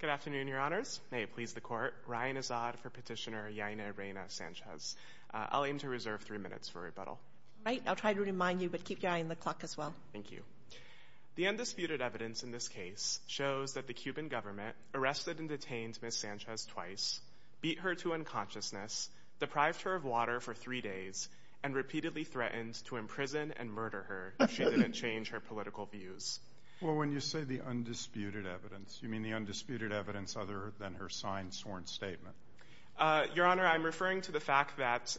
Good afternoon, your honors. May it please the court. Ryan Azad for petitioner Yaine Reyna Sanchez. I'll aim to reserve three minutes for rebuttal. Right, I'll try to remind you, but keep your eye on the clock as well. Thank you. The undisputed evidence in this case shows that the Cuban government arrested and detained Ms. Sanchez twice, beat her to unconsciousness, deprived her of water for three days, and repeatedly threatened to imprison and murder her if she didn't change her political views. Well, when you say the undisputed evidence, you mean the undisputed evidence other than her signed sworn statement? Your honor, I'm referring to the fact that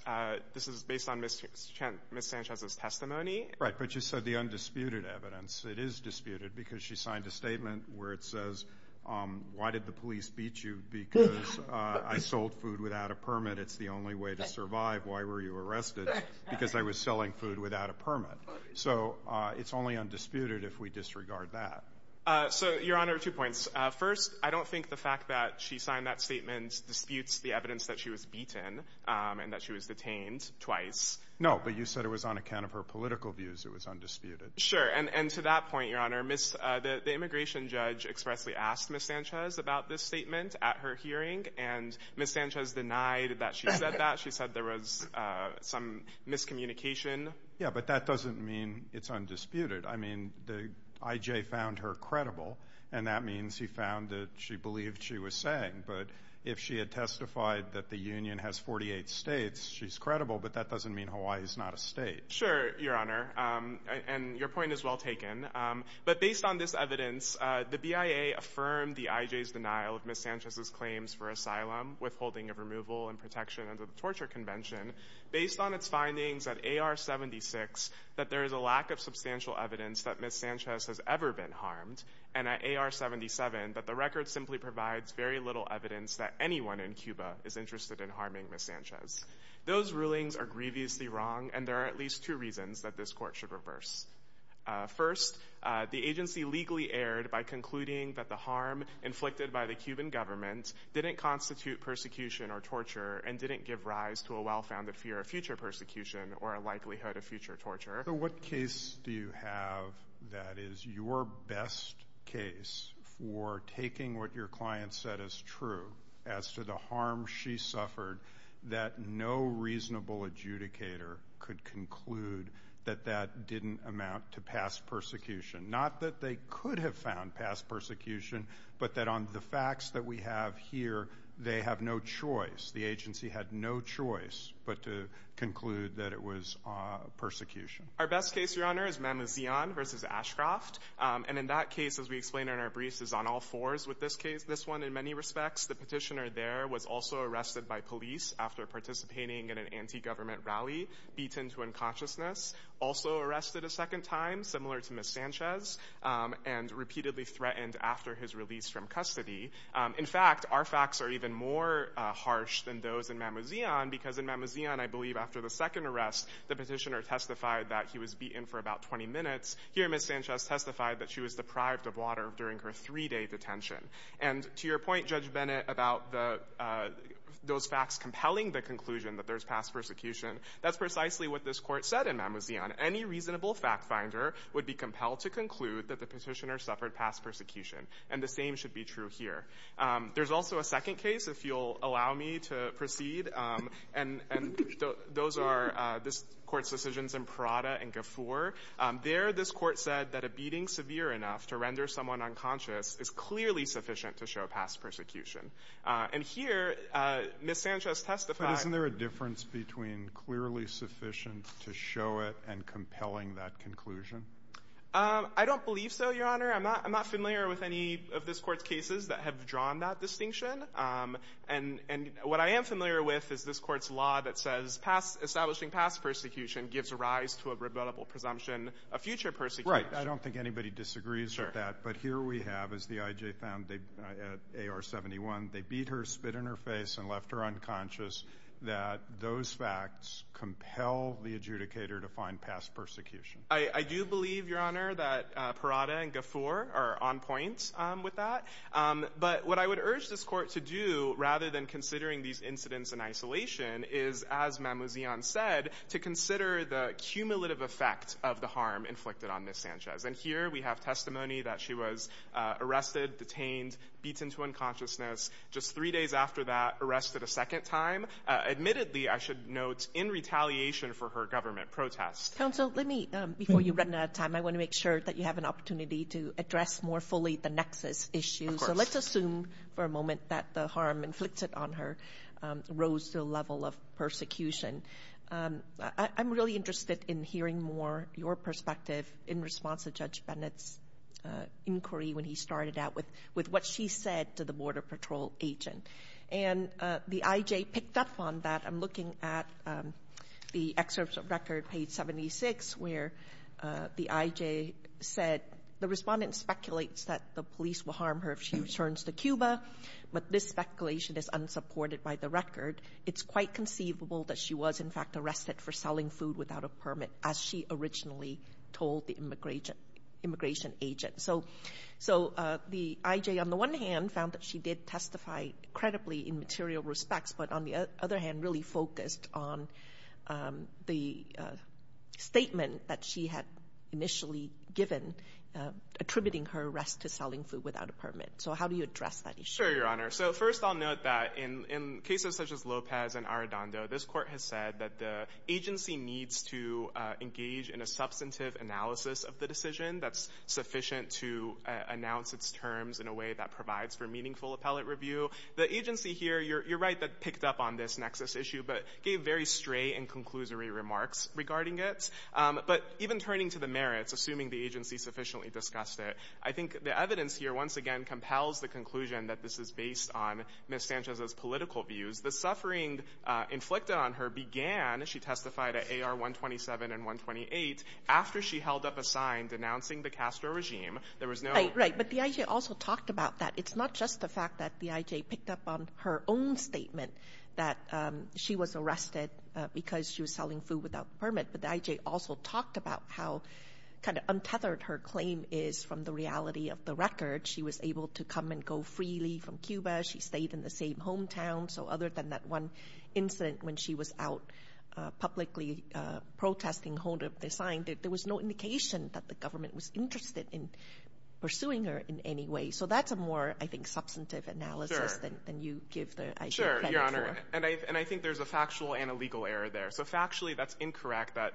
this is based on Ms. Sanchez's testimony. Right, but you said the undisputed evidence. It is disputed because she signed a statement where it says, why did the police beat you? Because I sold food without a permit. It's the only way to survive. Why were you arrested? Because I was selling food without a permit. So it's only undisputed if we disregard that. So, your honor, two points. First, I don't think the fact that she signed that statement disputes the evidence that she was beaten and that she was detained twice. No, but you said it was on account of her political views. It was undisputed. Sure, and to that point, your honor, the immigration judge expressly asked Ms. Sanchez about this statement at her hearing, and Ms. Sanchez denied that she said that. She said there was some miscommunication. Yeah, but that means he found her credible, and that means he found that she believed she was saying, but if she had testified that the Union has 48 states, she's credible, but that doesn't mean Hawaii is not a state. Sure, your honor, and your point is well taken, but based on this evidence, the BIA affirmed the IJ's denial of Ms. Sanchez's claims for asylum, withholding of removal and protection under the Torture Convention. Based on its findings at AR-76, that there is a lack of evidence that anyone in Cuba is interested in harming Ms. Sanchez. Those rulings are grievously wrong, and there are at least two reasons that this court should reverse. First, the agency legally erred by concluding that the harm inflicted by the Cuban government didn't constitute persecution or torture and didn't give rise to a well-founded fear of future persecution or a likelihood of persecution. Our best case, your honor, is Man with Zeon versus Ashcroft, and in that case, as we explained in our briefs, is on all fours with this case, this one in many respects. The petitioner there was also arrested by police after participating in an anti-government rally, beaten to unconsciousness, also arrested a second time, similar to Ms. Sanchez, and repeatedly threatened after his release from custody. In fact, our facts are even more harsh than those in Man with Zeon, because in Man with Zeon, I believe after the second arrest, the petitioner testified that he was beaten for about 20 minutes. Here, Ms. Sanchez testified that she was deprived of water during her three-day detention, and to your point, Judge Bennett, about those facts compelling the conclusion that there's past persecution, that's precisely what this court said in Man with Zeon. Any reasonable fact-finder would be compelled to conclude that the petitioner suffered past persecution, and the same should be true here. There's also a second case, if you'll allow me to proceed, and those are this court's decisions in Prada and Gafoor. There, this court said that a beating severe enough to render someone unconscious is clearly sufficient to show past persecution. And here, Ms. Sanchez testified— But isn't there a difference between clearly sufficient to show it and compelling that conclusion? I don't believe so, Your Honor. I'm not familiar with any of this court's cases that have drawn that distinction, and what I am familiar with is this court's law that says establishing past persecution gives rise to a rebuttable presumption of future persecution. Right, I don't think anybody disagrees with that, but here we have, as the IJ found at AR-71, they beat her, spit in her face, and left her unconscious, that those facts compel the adjudicator to find past persecution. I do believe, Your Honor, that Prada and Gafoor are on point with that, but what I would urge this court to do, rather than considering these incidents in isolation, is, as Mamouzian said, to consider the cumulative effect of the harm inflicted on Ms. Sanchez. And here, we have testimony that she was arrested, detained, beaten to unconsciousness, just three days after that, arrested a second time, admittedly, I should note, in retaliation for her government protest. Counsel, let me, before you run out of time, I want to make sure that you have an opportunity to address more fully the nexus issue. So let's assume for a moment that the harm inflicted on her rose to the level of persecution. I'm really interested in hearing more your perspective in response to Judge Bennett's inquiry when he started out with what she said to the Border Patrol agent. And the IJ picked up on that. I'm looking at the excerpts of record, page 76, where the IJ said, the respondent speculates that the police will harm her if she does. But this speculation is unsupported by the record. It's quite conceivable that she was, in fact, arrested for selling food without a permit, as she originally told the immigration agent. So the IJ, on the one hand, found that she did testify credibly in material respects, but on the other hand, really focused on the statement that she had initially given, attributing her arrest to selling food without a permit. So how do you address that issue? Sure, Your Honor. So first I'll note that in cases such as Lopez and Arradondo, this Court has said that the agency needs to engage in a substantive analysis of the decision that's sufficient to announce its terms in a way that provides for meaningful appellate review. The agency here, you're right, picked up on this nexus issue, but gave very stray and conclusory remarks regarding it. But even turning to the merits, assuming the agency sufficiently discussed it, I think the case is based on Ms. Sanchez's political views. The suffering inflicted on her began, she testified at AR-127 and 128, after she held up a sign denouncing the Castro regime. There was no... Right, right. But the IJ also talked about that. It's not just the fact that the IJ picked up on her own statement that she was arrested because she was selling food without permit, but the IJ also talked about how kind of untethered her claim is from the reality of the record. She was able to come and go freely from Cuba. She stayed in the same hometown. So other than that one incident when she was out publicly protesting, holding up the sign, there was no indication that the government was interested in pursuing her in any way. So that's a more, I think, substantive analysis than you give the IJ credit for. Sure, Your Honor. And I think there's a factual and a legal error there. So factually, that's incorrect that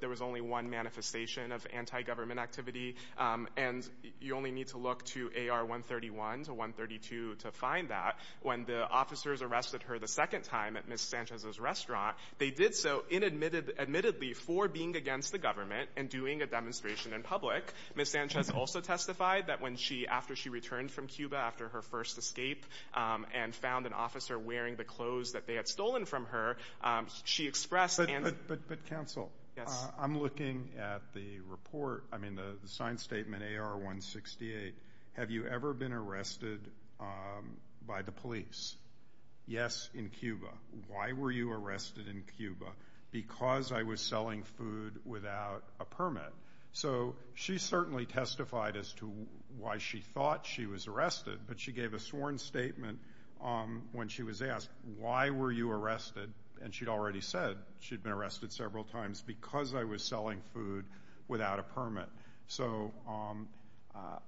there was only one manifestation of anti-government activity, and you only need to look to AR-131 to 132 to find that. When the officers arrested her the second time at Ms. Sanchez's restaurant, they did so admittedly for being against the government and doing a demonstration in public. Ms. Sanchez also testified that when she, after she returned from Cuba after her first escape and found an officer wearing the clothes that they had stolen from her, she expressed... But counsel, I'm looking at the report, I mean the signed statement AR-168, have you ever been arrested by the police? Yes, in Cuba. Why were you arrested in Cuba? Because I was selling food without a permit. So she certainly testified as to why she thought she was arrested, but she gave a sworn statement when she was asked, why were you arrested? And she'd already said she'd been arrested several times because I was selling food without a permit. So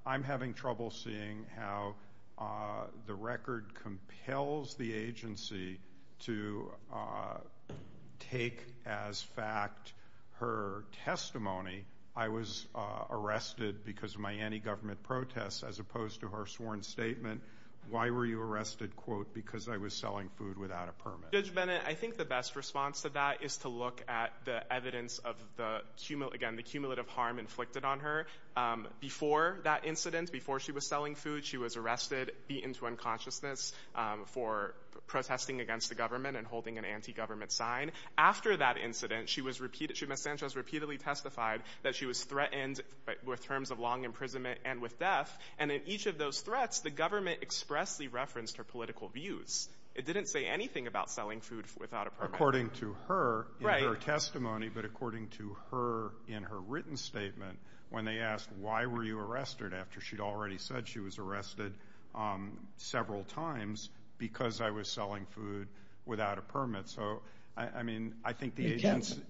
I'm having trouble seeing how the record compels the agency to take as fact her testimony, I was arrested because of my anti-government protests, as opposed to her sworn statement, why were you arrested, quote, because I was selling food without a permit. Judge Bennett, I think the best response to that is to look at the evidence of the, again, the cumulative harm inflicted on her. Before that incident, before she was selling food, she was arrested, beaten to unconsciousness for protesting against the government and holding an anti-government sign. After that incident, Ms. Sanchez repeatedly testified that she was threatened with terms of long imprisonment and with death, and in each of those threats, the government expressly referenced her political views. It didn't say anything about selling food without a permit. According to her, her testimony, but according to her in her written statement, when they asked, why were you arrested? After she'd already said she was arrested several times because I was selling food without a permit. So, I mean, I think the agency...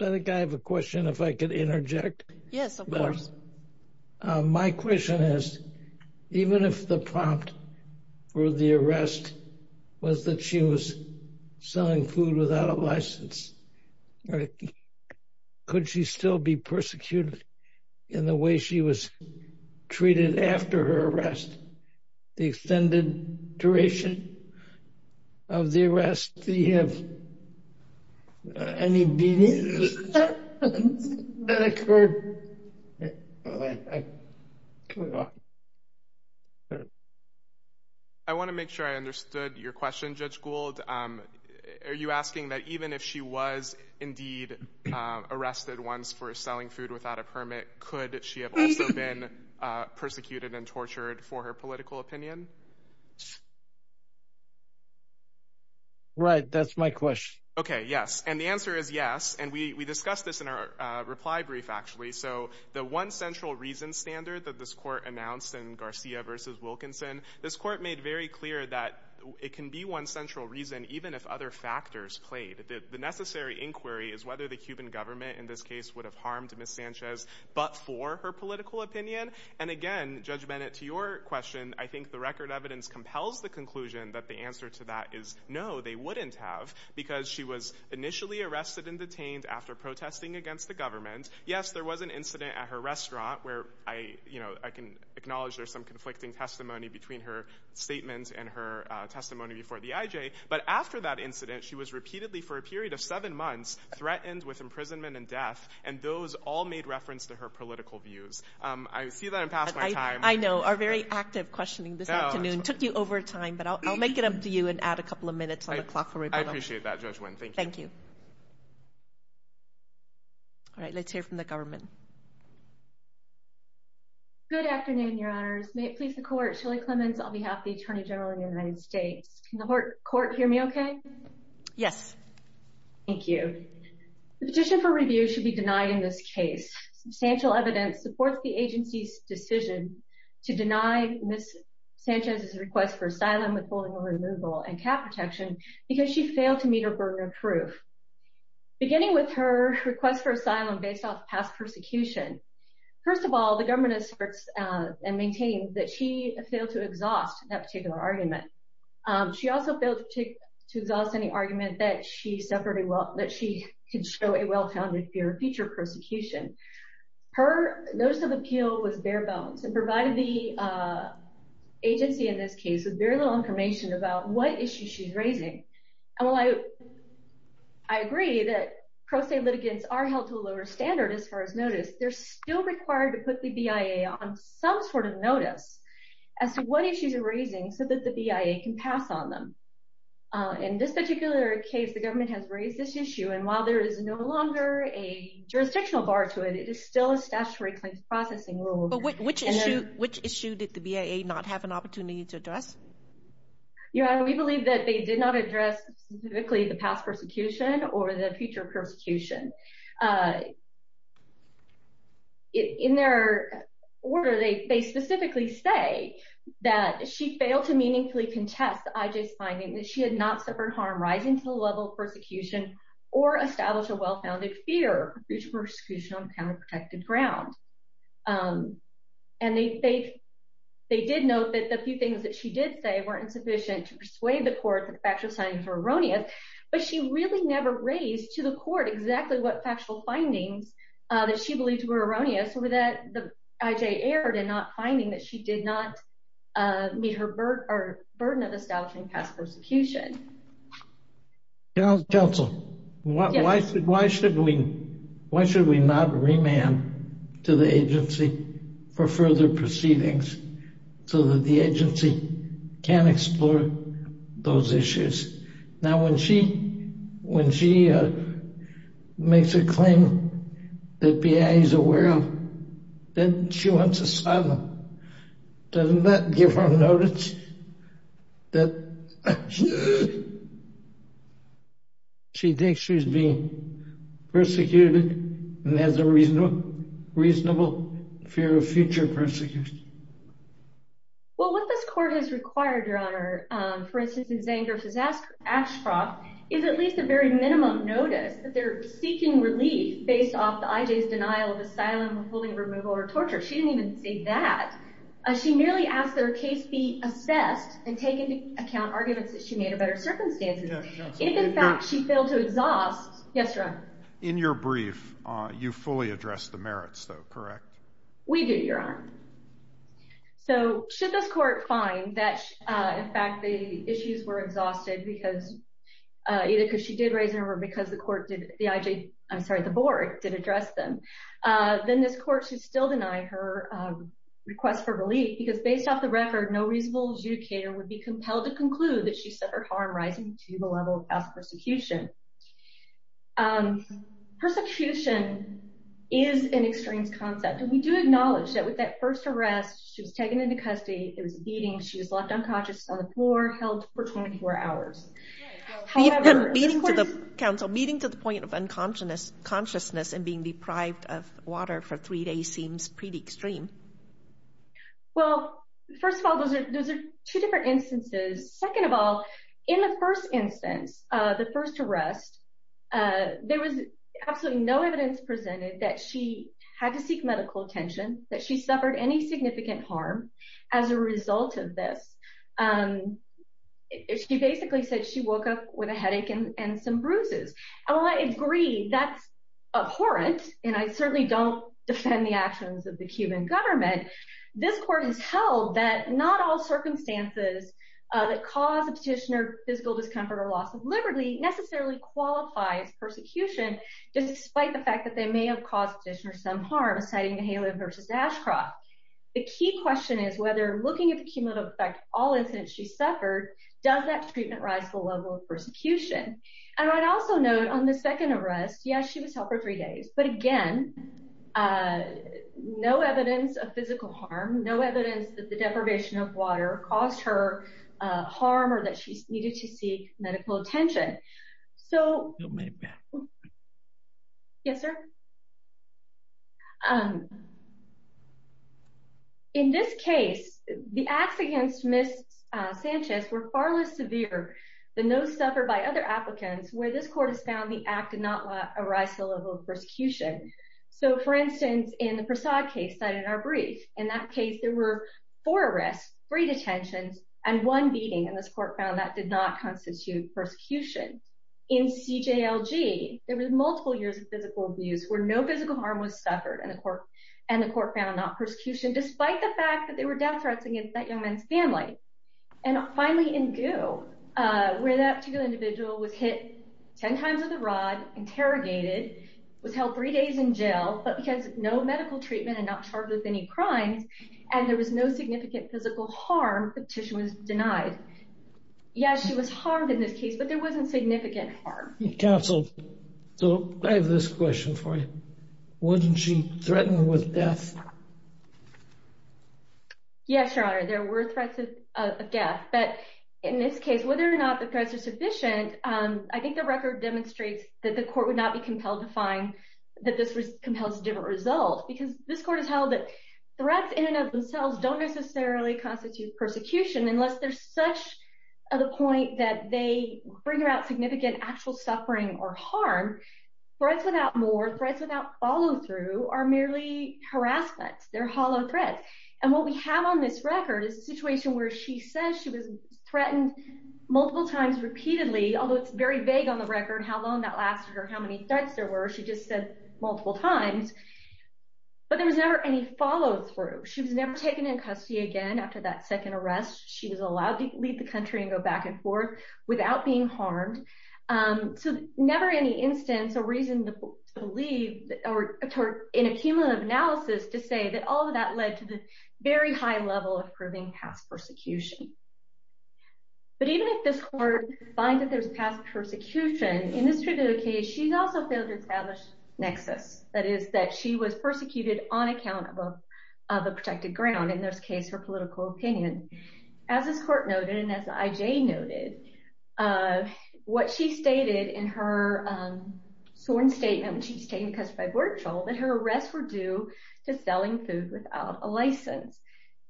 I think I have a question, if I could interject. Yes, of course. My question is, even if the prompt for the arrest was that she was selling food without a license, could she still be persecuted in the way she was treated after her arrest? The extended duration of the arrest, did you have any beatings that occurred? I want to make sure I understood your question, Judge Gould. Are you asking that even if she was indeed arrested once for selling food without a permit, could she have also been persecuted and tortured for her political opinion? Right, that's my question. Okay, yes, and the answer is yes, and we discussed this in our reply brief, actually. So, the one central reason standard that this court announced in Garcia versus Wilkinson, this court made very clear that it can be one central reason, even if other factors played. The necessary inquiry is whether the Cuban government in this case would have harmed Ms. Sanchez, but for her political opinion. And again, Judge Bennett, to your question, I think the record evidence compels the conclusion that the answer to that is no, they wouldn't have, because she was initially arrested and detained after protesting against the government. Yes, there was an incident at her restaurant where I, you know, I can acknowledge there's some conflicting testimony between her statement and her testimony before the IJ, but after that incident, she was repeatedly, for a period of seven months, threatened with imprisonment and death, and those all made reference to her political views. I see that I'm past my time. I know, our very active questioning this afternoon took you over time, but I'll make it up to you and add a couple of minutes on the clock. I appreciate that, Judge Nguyen. Thank you. All right, let's hear from the government. Good afternoon, Your Honors. May it please the Court, Shirley Clemons on behalf of the Attorney General of the United States. Can the Court hear me okay? Yes. Thank you. The petition for review should be denied in this case. Substantial evidence supports the agency's decision to deny Ms. Sanchez's request for asylum with burden of proof. Beginning with her request for asylum based off past persecution, first of all, the government asserts and maintains that she failed to exhaust that particular argument. She also failed to exhaust any argument that she suffered, that she could show a well-founded fear of future persecution. Her notice of appeal was bare-bones and provided the agency in this case with very little information about what issue she's raising. I agree that pro se litigants are held to a lower standard as far as notice. They're still required to put the BIA on some sort of notice as to what issues are raising so that the BIA can pass on them. In this particular case, the government has raised this issue, and while there is no longer a jurisdictional bar to it, it is still a statutory claims processing rule. Which issue did the BIA not have an opportunity to address? Your Honor, we believe that they did not address specifically the past persecution or the future persecution. In their order, they specifically say that she failed to meaningfully contest IJ's finding that she had not suffered harm rising to the level of persecution or established a well-founded fear of future persecution on counterprotected ground. And they did note that the few things that she did say weren't sufficient to persuade the court that the factual findings were erroneous, but she really never raised to the court exactly what factual findings that she believes were erroneous or that the IJ erred in not finding that she did not meet her burden of establishing past persecution. Your Honor's counsel, why should we not remand to the agency for further proceedings so that the agency can explore those issues? Now when she makes a claim that BIA is aware of, then she wants asylum. Doesn't that give her notice that she thinks she's being persecuted and has a reasonable fear of future persecution? Well, what this court has required, Your Honor, for instance, in Zangerfuss, Ashcroft, is at least a very minimum notice that they're seeking relief based off the IJ's denial of asylum, fully removal, or torture. She didn't even say that. She merely asked that her case be assessed and take into account arguments that she made about her circumstances. If, in fact, she failed to exhaust... Yes, Your Honor? In your brief, you fully addressed the merits, though, correct? We do, Your Honor. So should this court find that, in fact, the issues were exhausted because either because she did raise them or because the court did, the IJ, I'm sorry, the board did address them, then this court should still deny her request for relief because based off the record, no reasonable adjudicator would be compelled to conclude that she suffered harm rising to the level of past persecution. Persecution is an extremes concept. We do acknowledge that with that first arrest, she was taken into custody, it was a beating, she was left unconscious on the floor, held for 24 hours. Meeting to the point of unconsciousness and being deprived of water for three days seems pretty extreme. Well, first of all, those are two different instances. Second of all, in the first instance, the first arrest, there was absolutely no evidence presented that she had to seek medical attention, that she suffered any significant harm as a result of this. She basically said she woke up with a headache and some bruises. While I agree that's abhorrent, and I certainly don't defend the actions of the Cuban government, this court has held that not all circumstances that cause a petitioner physical discomfort or loss of liberty necessarily qualify as persecution, despite the fact that they may have caused petitioner some harm, citing the Halo versus Ashcroft. The key question is whether looking at the cumulative effect of all incidents she suffered, does that treatment rise to the level of persecution? And I'd also note on the second arrest, yes, she was held for three days, but again, no evidence of physical water caused her harm or that she needed to seek medical attention. So, yes, sir? In this case, the acts against Ms. Sanchez were far less severe than those suffered by other applicants, where this court has found the act did not arise to the level of persecution. So, for instance, in the Prasad case cited in our brief, in that case, there were four arrests, three detentions, and one beating, and this court found that did not constitute persecution. In CJLG, there was multiple years of physical abuse where no physical harm was suffered, and the court found not persecution, despite the fact that they were death threats against that young man's family. And finally, in GU, where that particular individual was hit ten times with a rod, interrogated, was held three days in jail, but because no medical treatment and not charged with any crimes, and there was no significant physical harm, the petition was denied. Yes, she was harmed in this case, but there wasn't significant harm. Counsel, so I have this question for you. Wouldn't she threaten with death? Yes, Your Honor, there were threats of death, but in this case, whether or not the threats are sufficient, I think the record demonstrates that the court would not be compelled to find that this was a different result, because this court has held that threats in and of themselves don't necessarily constitute persecution, unless there's such a point that they bring about significant actual suffering or harm. Threats without more, threats without follow-through, are merely harassment. They're hollow threats, and what we have on this record is a situation where she says she was threatened multiple times repeatedly, although it's very vague on the record how long that lasted or how many threats there were. She just said multiple times, but there was never any follow-through. She was never taken in custody again after that second arrest. She was allowed to leave the country and go back and forth without being harmed, so never any instance or reason to believe or in a cumulative analysis to say that all of that led to the very high level of proving past persecution. But even if this court finds that there's past persecution, in this particular case, she's also failed to establish nexus, that is, that she was persecuted on account of a protected ground, in this case, her political opinion. As this court noted, and as IJ noted, what she stated in her sworn statement when she was taken in custody by Bortscholl, that her arrests were due to selling food without a license,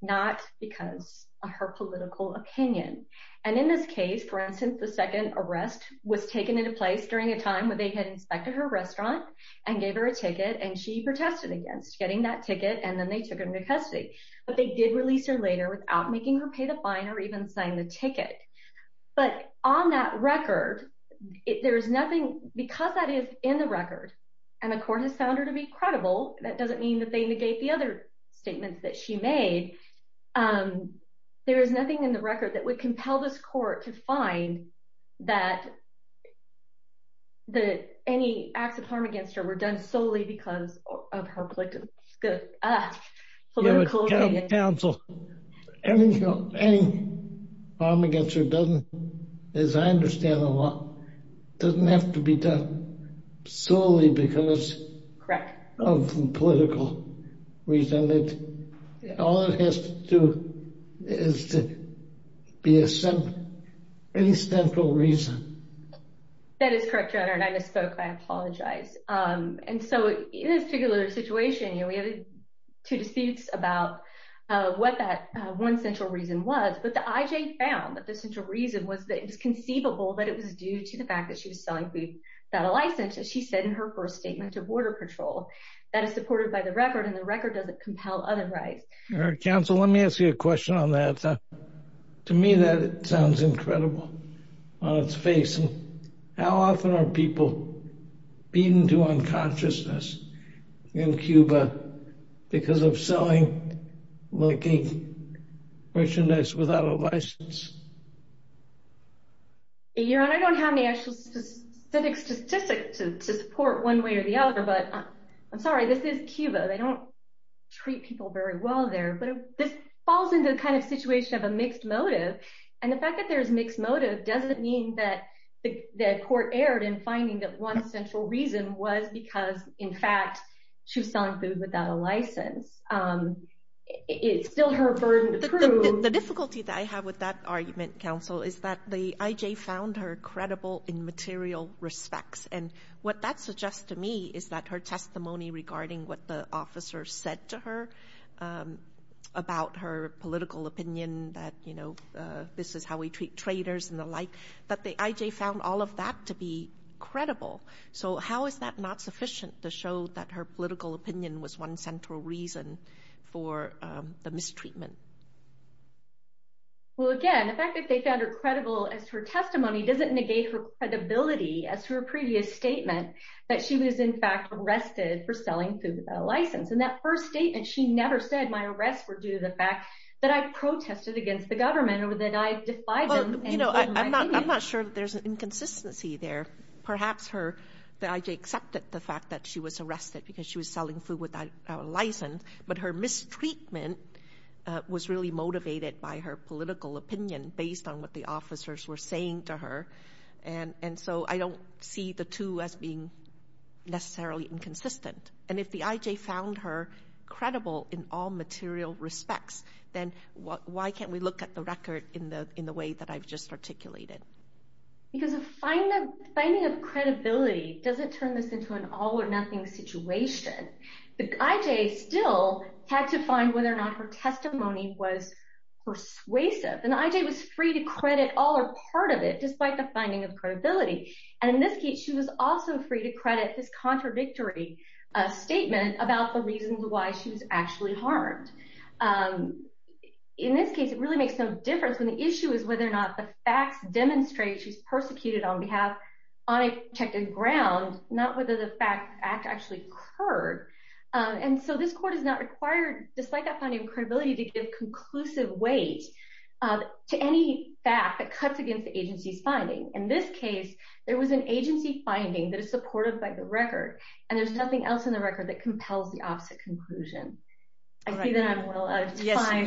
not because of her political opinion. And in this case, for instance, the second arrest was taken into place during a time when they had inspected her restaurant and gave her a ticket, and she protested against getting that ticket, and then they took her into custody. But they did release her later without making her pay the fine or even sign the ticket. But on that record, there's nothing, because that is in the record, and the court has found her to be credible, that doesn't mean that they negate the other statements that she made, there is nothing in the record that would compel this court to say that any acts of harm against her were done solely because of her political opinion. Any harm against her doesn't, as I understand a lot, doesn't have to be done solely because of political reason. All it has to do is to be a central reason. That is correct, Your Honor, and I misspoke, I apologize. And so in this particular situation, you know, we had two disputes about what that one central reason was, but the IJ found that the central reason was that it was conceivable that it was due to the fact that she was selling food without a license, as she said in her first statement to Border Patrol. That is supported by the record, and the record doesn't compel otherwise. Your Honor, counsel, let me ask you a question on that. To me, that makes sense. How often are people beaten to unconsciousness in Cuba because of selling, looking, merchandise without a license? Your Honor, I don't have an actual statistic to support one way or the other, but I'm sorry, this is Cuba, they don't treat people very well there, but this falls into the kind of that court erred in finding that one central reason was because, in fact, she was selling food without a license. It's still her burden to prove. The difficulty that I have with that argument, counsel, is that the IJ found her credible in material respects, and what that suggests to me is that her testimony regarding what the officer said to her about her political opinion that, you know, this is how we treat traitors and the like, that the IJ found all of that to be credible. So how is that not sufficient to show that her political opinion was one central reason for the mistreatment? Well, again, the fact that they found her credible as her testimony doesn't negate her credibility as her previous statement that she was, in fact, arrested for selling food without a license. In that first statement, she never said, my arrests were due to the government, or that I defied them and gave my opinion. Well, you know, I'm not sure that there's an inconsistency there. Perhaps the IJ accepted the fact that she was arrested because she was selling food without a license, but her mistreatment was really motivated by her political opinion based on what the officers were saying to her, and so I don't see the two as being necessarily inconsistent. And if the IJ found her credible in all material respects, then why can't we look at the record in the way that I've just articulated? Because a finding of credibility doesn't turn this into an all-or-nothing situation. The IJ still had to find whether or not her testimony was persuasive, and the IJ was free to credit all or part of it despite the finding of credibility. And in this case, she was also free to credit this contradictory statement about the reasons why she was actually harmed. In this case, it really makes no difference when the issue is whether or not the facts demonstrate she's persecuted on behalf, on a protected ground, not whether the fact actually occurred. And so this court is not required, despite that finding of credibility, to give conclusive weight to any fact that cuts against the agency's finding. In this case, there was an agency finding that is supported by the record, and there's nothing else in the record that compels the opposite conclusion. I see that I'm well out of time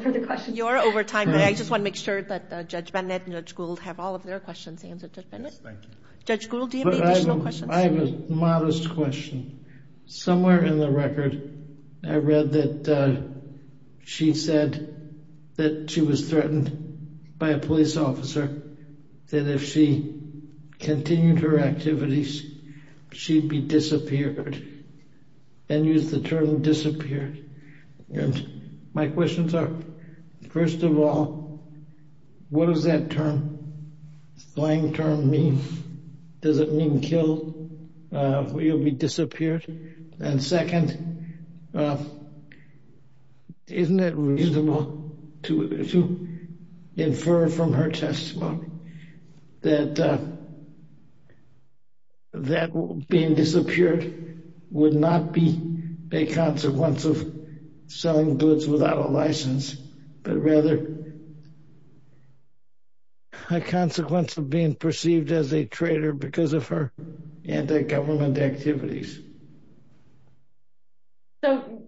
for the questions. You're over time, but I just want to make sure that Judge Bennett and Judge Gould have all of their questions answered, Judge Bennett. Yes, thank you. Judge Gould, do you have any additional questions? I have a modest question. Somewhere in the record, I read that she said that she was she'd be disappeared, and used the term disappeared. And my questions are, first of all, what does that term, slang term, mean? Does it mean killed? Will you be disappeared? And second, isn't it reasonable to infer from her testimony that being disappeared would not be a consequence of selling goods without a license, but rather a consequence of being perceived as a traitor because of her anti-government activities? So,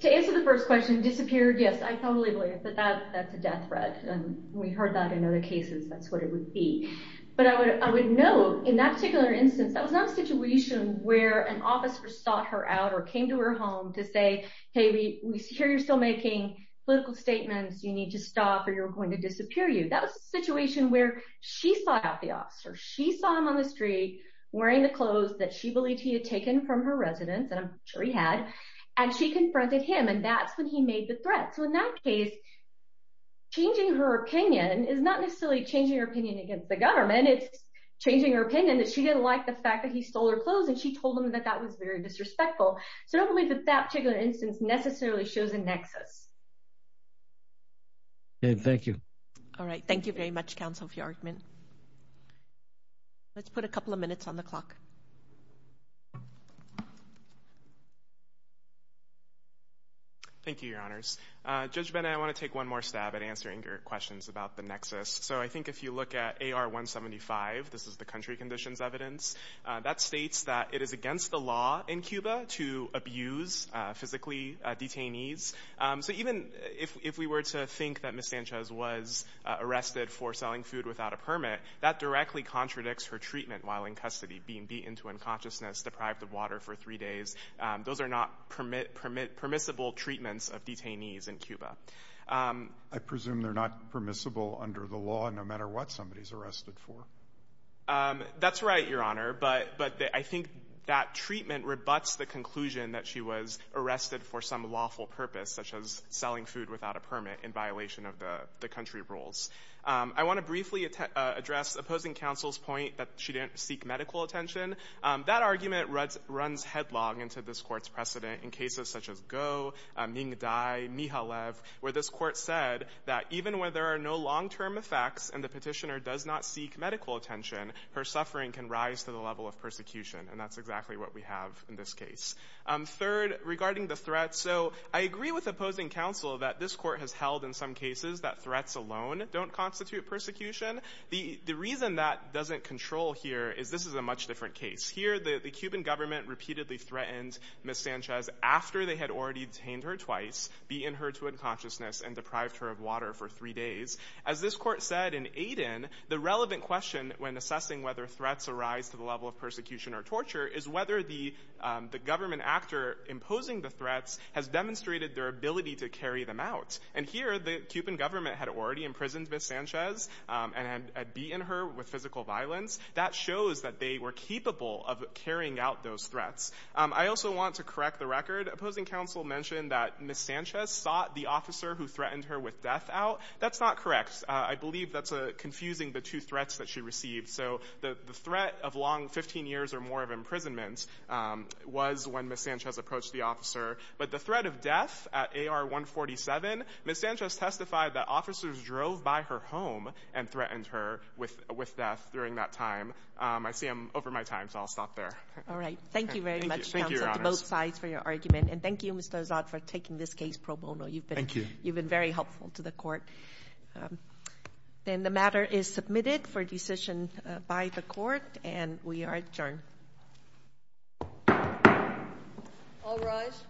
to answer the first question, disappeared, yes, I totally believe that that's a death threat. We heard that in other cases, that's what it would be. But I would note, in that particular instance, that was not a situation where an officer sought her out or came to her home to say, hey, we hear you're still making political statements, you need to stop or you're going to disappear you. That was a situation where she sought out the officer. She saw him on the street wearing the clothes that she believed he had taken from her residence, and I'm sure he had, and she confronted him, and that's when he made the threat. So, in that case, changing her opinion is not necessarily changing her opinion against the government, it's changing her opinion that she didn't like the fact that he stole her clothes, and she told him that that was very disrespectful. So, I don't believe that that particular instance necessarily shows a nexus. Okay, thank you. All right, thank you very much, Councilor Fjordman. Let's put a couple of minutes on the clock. Thank you, Your Honors. Judge Benet, I want to take one more stab at answering your questions about the nexus. So, I think if you look at AR-175, this is the country conditions evidence, that states that it is against the law in Cuba to abuse, physically, detainees. So, even if we were to think that Ms. Sanchez was arrested for selling food without a permit, that directly contradicts her treatment while in custody, being beaten to unconsciousness, deprived of water for three days. Those are not permissible treatments of detainees in Cuba. I presume they're not permissible under the law, no matter what somebody's arrested for. That's right, Your Honor, but I think that treatment rebuts the conclusion that she was arrested for some lawful purpose, such as selling food without a permit in violation of the country rules. I want to briefly address opposing counsel's point that she didn't seek medical attention. That argument runs headlong into this Court's precedent in cases such as Goh, Nyingadai, Mijalev, where this Court said that even when there are no long-term effects and the petitioner does not seek medical attention, her suffering can rise to the level of persecution, and that's exactly what we have in this case. Third, regarding the threat. So, I agree with opposing counsel that this Court has held in some cases that threats alone don't constitute persecution. The reason that doesn't control here is this is a much different case. Here, the Cuban government repeatedly threatened Ms. Sanchez after they had already detained her twice, beaten her to unconsciousness, and deprived her of water for three days. As this Court said in Aiden, the relevant question when assessing whether threats arise to the level of persecution or torture is whether the government actor imposing the threats has demonstrated their ability to carry them out. And here, the Cuban government had already imprisoned Ms. Sanchez and had beaten her with physical violence. That shows that they were capable of carrying out those threats. I also want to correct the record. Opposing counsel mentioned that Ms. Sanchez sought the officer who threatened her with death out. That's not correct. I believe that's confusing the two threats that she received. So, the threat of long 15 years or more of imprisonment was when Ms. Sanchez approached the officer. But the threat of death at AR-147, Ms. Sanchez testified that officers drove by her home and threatened her with death during that time. I see I'm over my time, so I'll stop there. All right. Thank you very much, counsel, to both sides for your argument. And thank you, Mr. Azad, for taking this case pro bono. Thank you. You've been very helpful to the Court. Then the matter is submitted for decision by the Court, and we are adjourned. All rise.